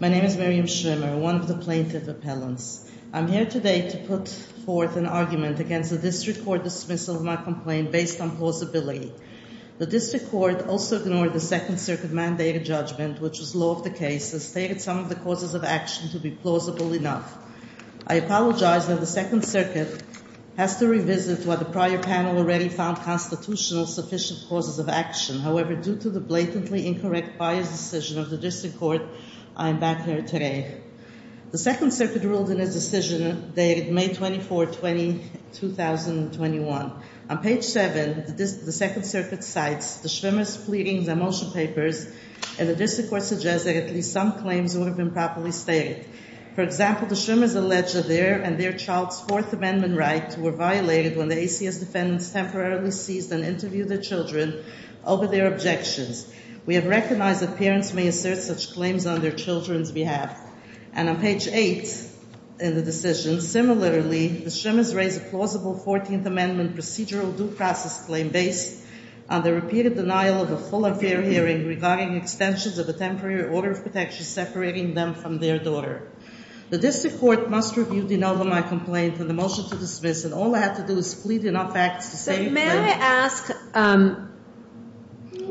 My name is Miriam Schvimmer, one of the plaintiff appellants. I'm here today to put forth an argument against the District Court dismissal of my complaint based on plausibility. The District Court also ignored the Second Circuit mandate of judgment, which was law of the case, and stated some of the causes of action to be plausible enough. I apologize that the Second Circuit has to revisit what the prior panel already found constitutional sufficient causes of action. However, due to the blatantly incorrect bias decision of the District Court, I am back here today. The Second Circuit ruled in its decision dated May 24, 2021. On page 7, the Second Circuit cites the Schvimmer's pleadings and motion papers, and the District Court suggests that at least some claims would have been properly stated. For example, the Schvimmers allege that their and their child's Fourth Amendment rights were violated when the ACS defendants temporarily seized and interviewed their children over their objections. We have recognized that parents may assert such claims on their children's behalf. And on page 8 in the decision, similarly, the Schvimmers raise a plausible Fourteenth Amendment procedural due process claim based on the repeated denial of a full affair hearing regarding extensions of a temporary order of protection separating them from their daughter. The District Court must review the denial of my complaint and the motion to dismiss it. All I have to do is plead enough facts to say— So may I ask,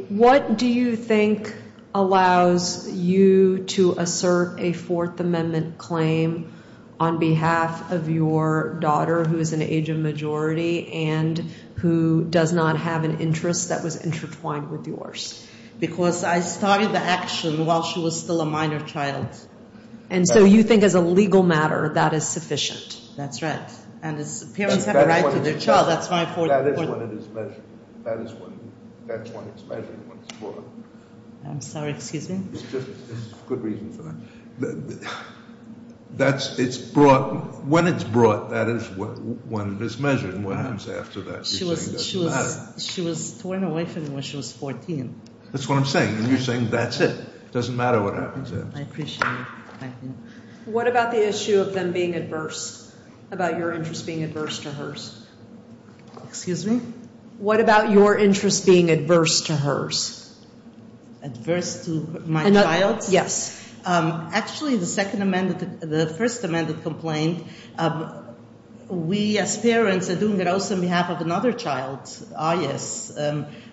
what do you think allows you to assert a Fourth Amendment claim on behalf of your daughter, who is an age of majority and who does not have an interest that was intertwined with yours? Because I started the action while she was still a minor child. And so you think as a legal matter, that is sufficient. That's right. And parents have a right to their child. That's my fourth point. That is when it is measured. That is when it's measured and when it's brought. I'm sorry, excuse me? It's just a good reason for that. That's—it's brought—when it's brought, that is when it's measured and what happens after that. You're saying it doesn't matter. She was torn away from me when she was 14. That's what I'm saying. You're saying that's it. It doesn't matter what happens after that. I appreciate it. Thank you. What about the issue of them being adverse, about your interest being adverse to hers? Excuse me? What about your interest being adverse to hers? Adverse to my child's? Yes. Actually, the Second Amendment—the First Amendment complaint, we as parents are doing it also on behalf of another child's,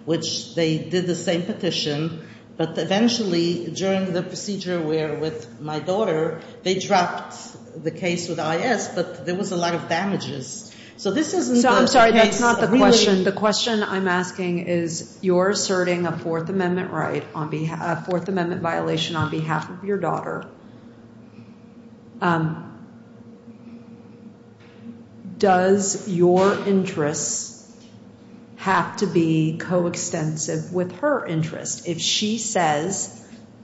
which they did the same petition, but eventually during the procedure with my daughter, they dropped the case with I.S., but there was a lot of damages. So this isn't— I'm sorry, that's not the question. The question I'm asking is you're asserting a Fourth Amendment right on behalf—a Fourth Amendment violation on behalf of your daughter. Does your interest have to be coextensive with her interest? If she says,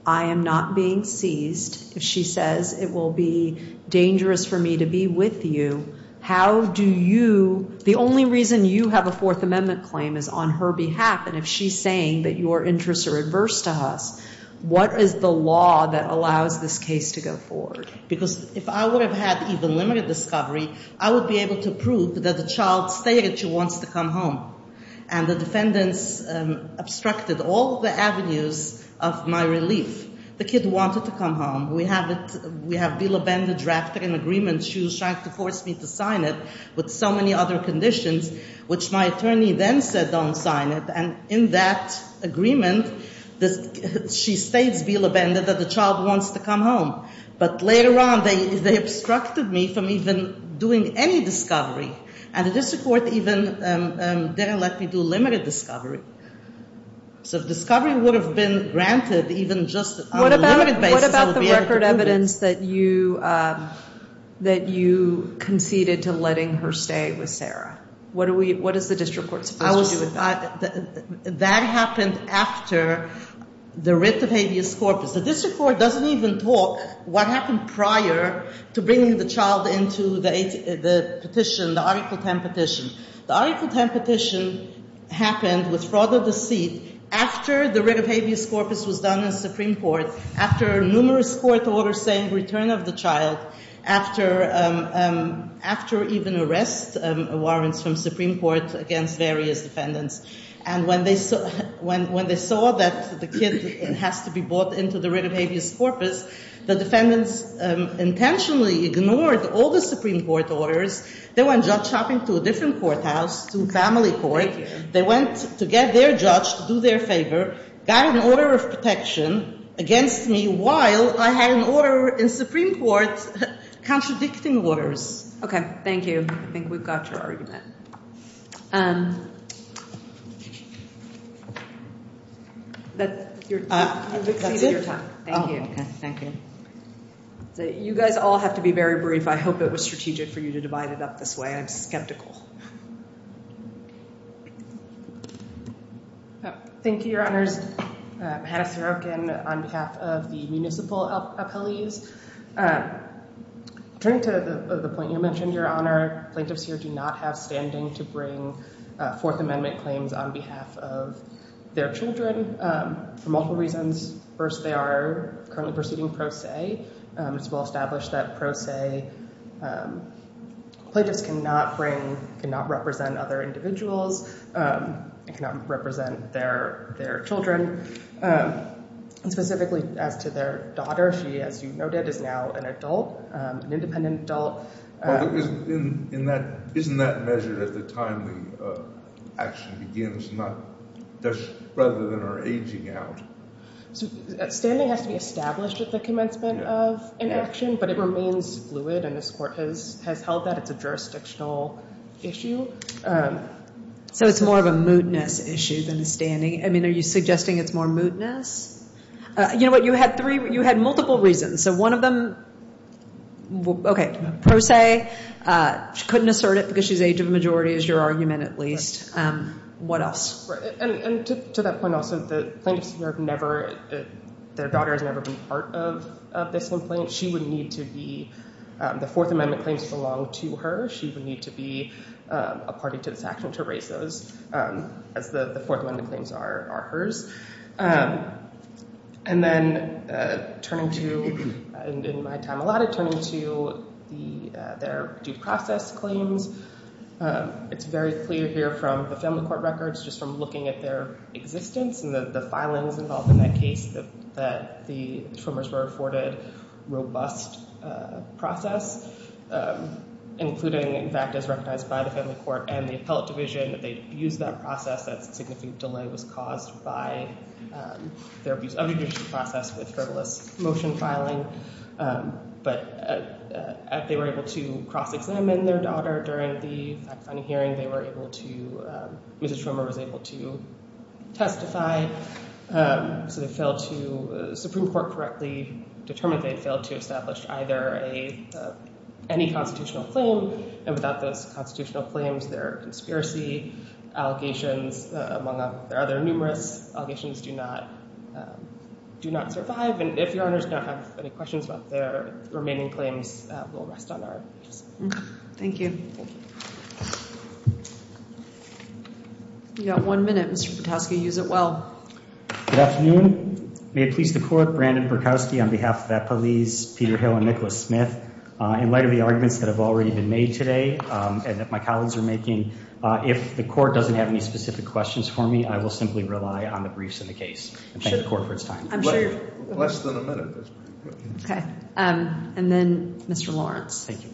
I am not being seized, if she says it will be dangerous for me to be with you, how do you— the only reason you have a Fourth Amendment claim is on her behalf, and if she's saying that your interests are adverse to hers, what is the law that allows this case to go forward? Because if I would have had even limited discovery, I would be able to prove that the child stated she wants to come home, and the defendants obstructed all the avenues of my relief. The kid wanted to come home. We have Bila Benda drafted an agreement. She was trying to force me to sign it with so many other conditions, which my attorney then said don't sign it, and in that agreement, she states, Bila Benda, that the child wants to come home. But later on, they obstructed me from even doing any discovery, and the district court even didn't let me do limited discovery. So discovery would have been granted even just on a limited basis. What about the record evidence that you conceded to letting her stay with Sarah? What does the district court suppose would do with that? That happened after the writ of habeas corpus. The district court doesn't even talk what happened prior to bringing the child into the petition, the Article 10 petition. The Article 10 petition happened with fraud or deceit after the writ of habeas corpus was done in the Supreme Court, after numerous court orders saying return of the child, after even arrest warrants from Supreme Court against various defendants. And when they saw that the kid has to be brought into the writ of habeas corpus, the defendants intentionally ignored all the Supreme Court orders. They went judge shopping to a different courthouse, to family court. Thank you. They went to get their judge to do their favor, got an order of protection against me while I had an order in Supreme Court contradicting orders. Okay. Thank you. I think we've got your argument. That's it? Thank you. Thank you. You guys all have to be very brief. I hope it was strategic for you to divide it up this way. I'm skeptical. Thank you, Your Honors. Hannah Serokin on behalf of the municipal appellees. Turning to the point you mentioned, Your Honor, plaintiffs here do not have standing to bring Fourth Amendment claims on behalf of their children for multiple reasons. First, they are currently pursuing pro se. It's well established that pro se plaintiffs cannot bring, cannot represent other individuals, cannot represent their children. And specifically as to their daughter, she, as you noted, is now an adult, an independent adult. Isn't that measured at the time the action begins, rather than her aging out? Standing has to be established at the commencement of an action, but it remains fluid, and this Court has held that it's a jurisdictional issue. So it's more of a mootness issue than standing? I mean, are you suggesting it's more mootness? You know what, you had three, you had multiple reasons. So one of them, okay, pro se, she couldn't assert it because she's age of majority is your argument at least. What else? And to that point also, the plaintiffs here have never, their daughter has never been part of this complaint. She would need to be, the Fourth Amendment claims belong to her. She would need to be a party to this action to raise those as the Fourth Amendment claims are hers. And then turning to, and in my time allotted, turning to their due process claims. It's very clear here from the family court records, just from looking at their existence and the filings involved in that case, that the trimmers were afforded robust process, including, in fact, as recognized by the family court and the appellate division, that they abused that process, that significant delay was caused by their abuse of the judicial process with frivolous motion filing. But they were able to cross-examine their daughter during the fact-finding hearing. They were able to, Mrs. Trimmer was able to testify. So they failed to, the Supreme Court correctly determined they had failed to establish either a, any constitutional claim. And without those constitutional claims, their conspiracy allegations, among other numerous allegations, do not survive. And if your honors don't have any questions about their remaining claims, we'll rest on our case. Thank you. Thank you. We've got one minute. Mr. Petoskey, use it well. Good afternoon. May it please the Court, Brandon Petoskey on behalf of Appellees Peter Hill and Nicholas Smith. In light of the arguments that have already been made today, and that my colleagues are making, if the Court doesn't have any specific questions for me, I will simply rely on the briefs in the case. Less than a minute. Okay. And then Mr. Lawrence. Thank you.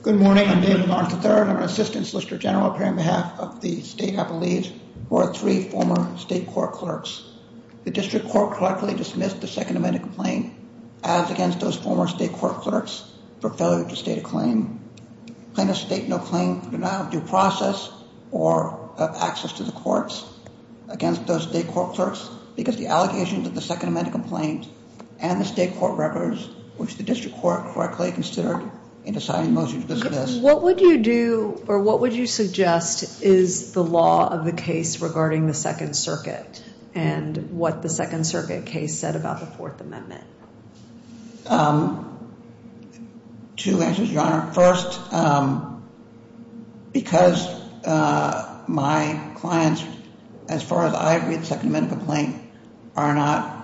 Good morning. I'm David Lawrence III. I'm an Assistant Solicitor General appearing on behalf of the State Appellees, who are three former state court clerks. The District Court correctly dismissed the Second Amendment complaint, as against those former state court clerks, for failure to state a claim. Claim to state no claim, do not have due process, or have access to the courts, against those state court clerks, because the allegations of the Second Amendment complaint and the state court records, which the District Court correctly considered in deciding the motion to dismiss. What would you do, or what would you suggest, is the law of the case regarding the Second Circuit, and what the Second Circuit case said about the Fourth Amendment? Two answers, Your Honor. First, because my clients, as far as I agree with the Second Amendment complaint, are not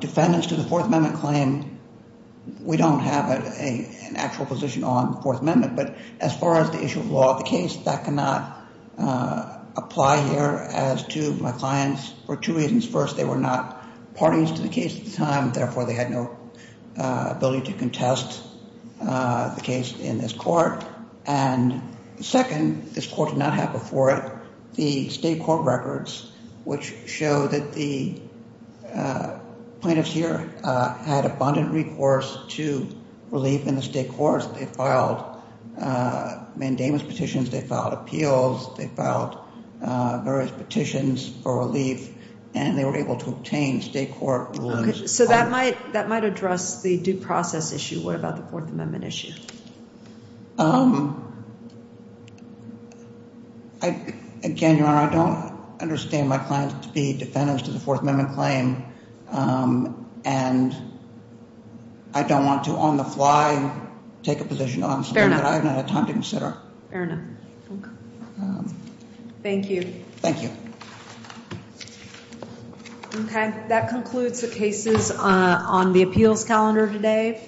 defendants to the Fourth Amendment claim, we don't have an actual position on the Fourth Amendment. But as far as the issue of law of the case, that cannot apply here. As to my clients, for two reasons. First, they were not parties to the case at the time, therefore they had no ability to contest the case in this court. And second, this court did not have before it the state court records, which show that the plaintiffs here had abundant recourse to relief in the state courts. They filed mandamus petitions, they filed appeals, they filed various petitions for relief, and they were able to obtain state court rules. So that might address the due process issue. What about the Fourth Amendment issue? Again, Your Honor, I don't understand my clients to be defendants to the Fourth Amendment claim, and I don't want to on the fly take a position on something that I have not had time to consider. Fair enough. Thank you. Thank you. Okay, that concludes the cases on the appeals calendar today.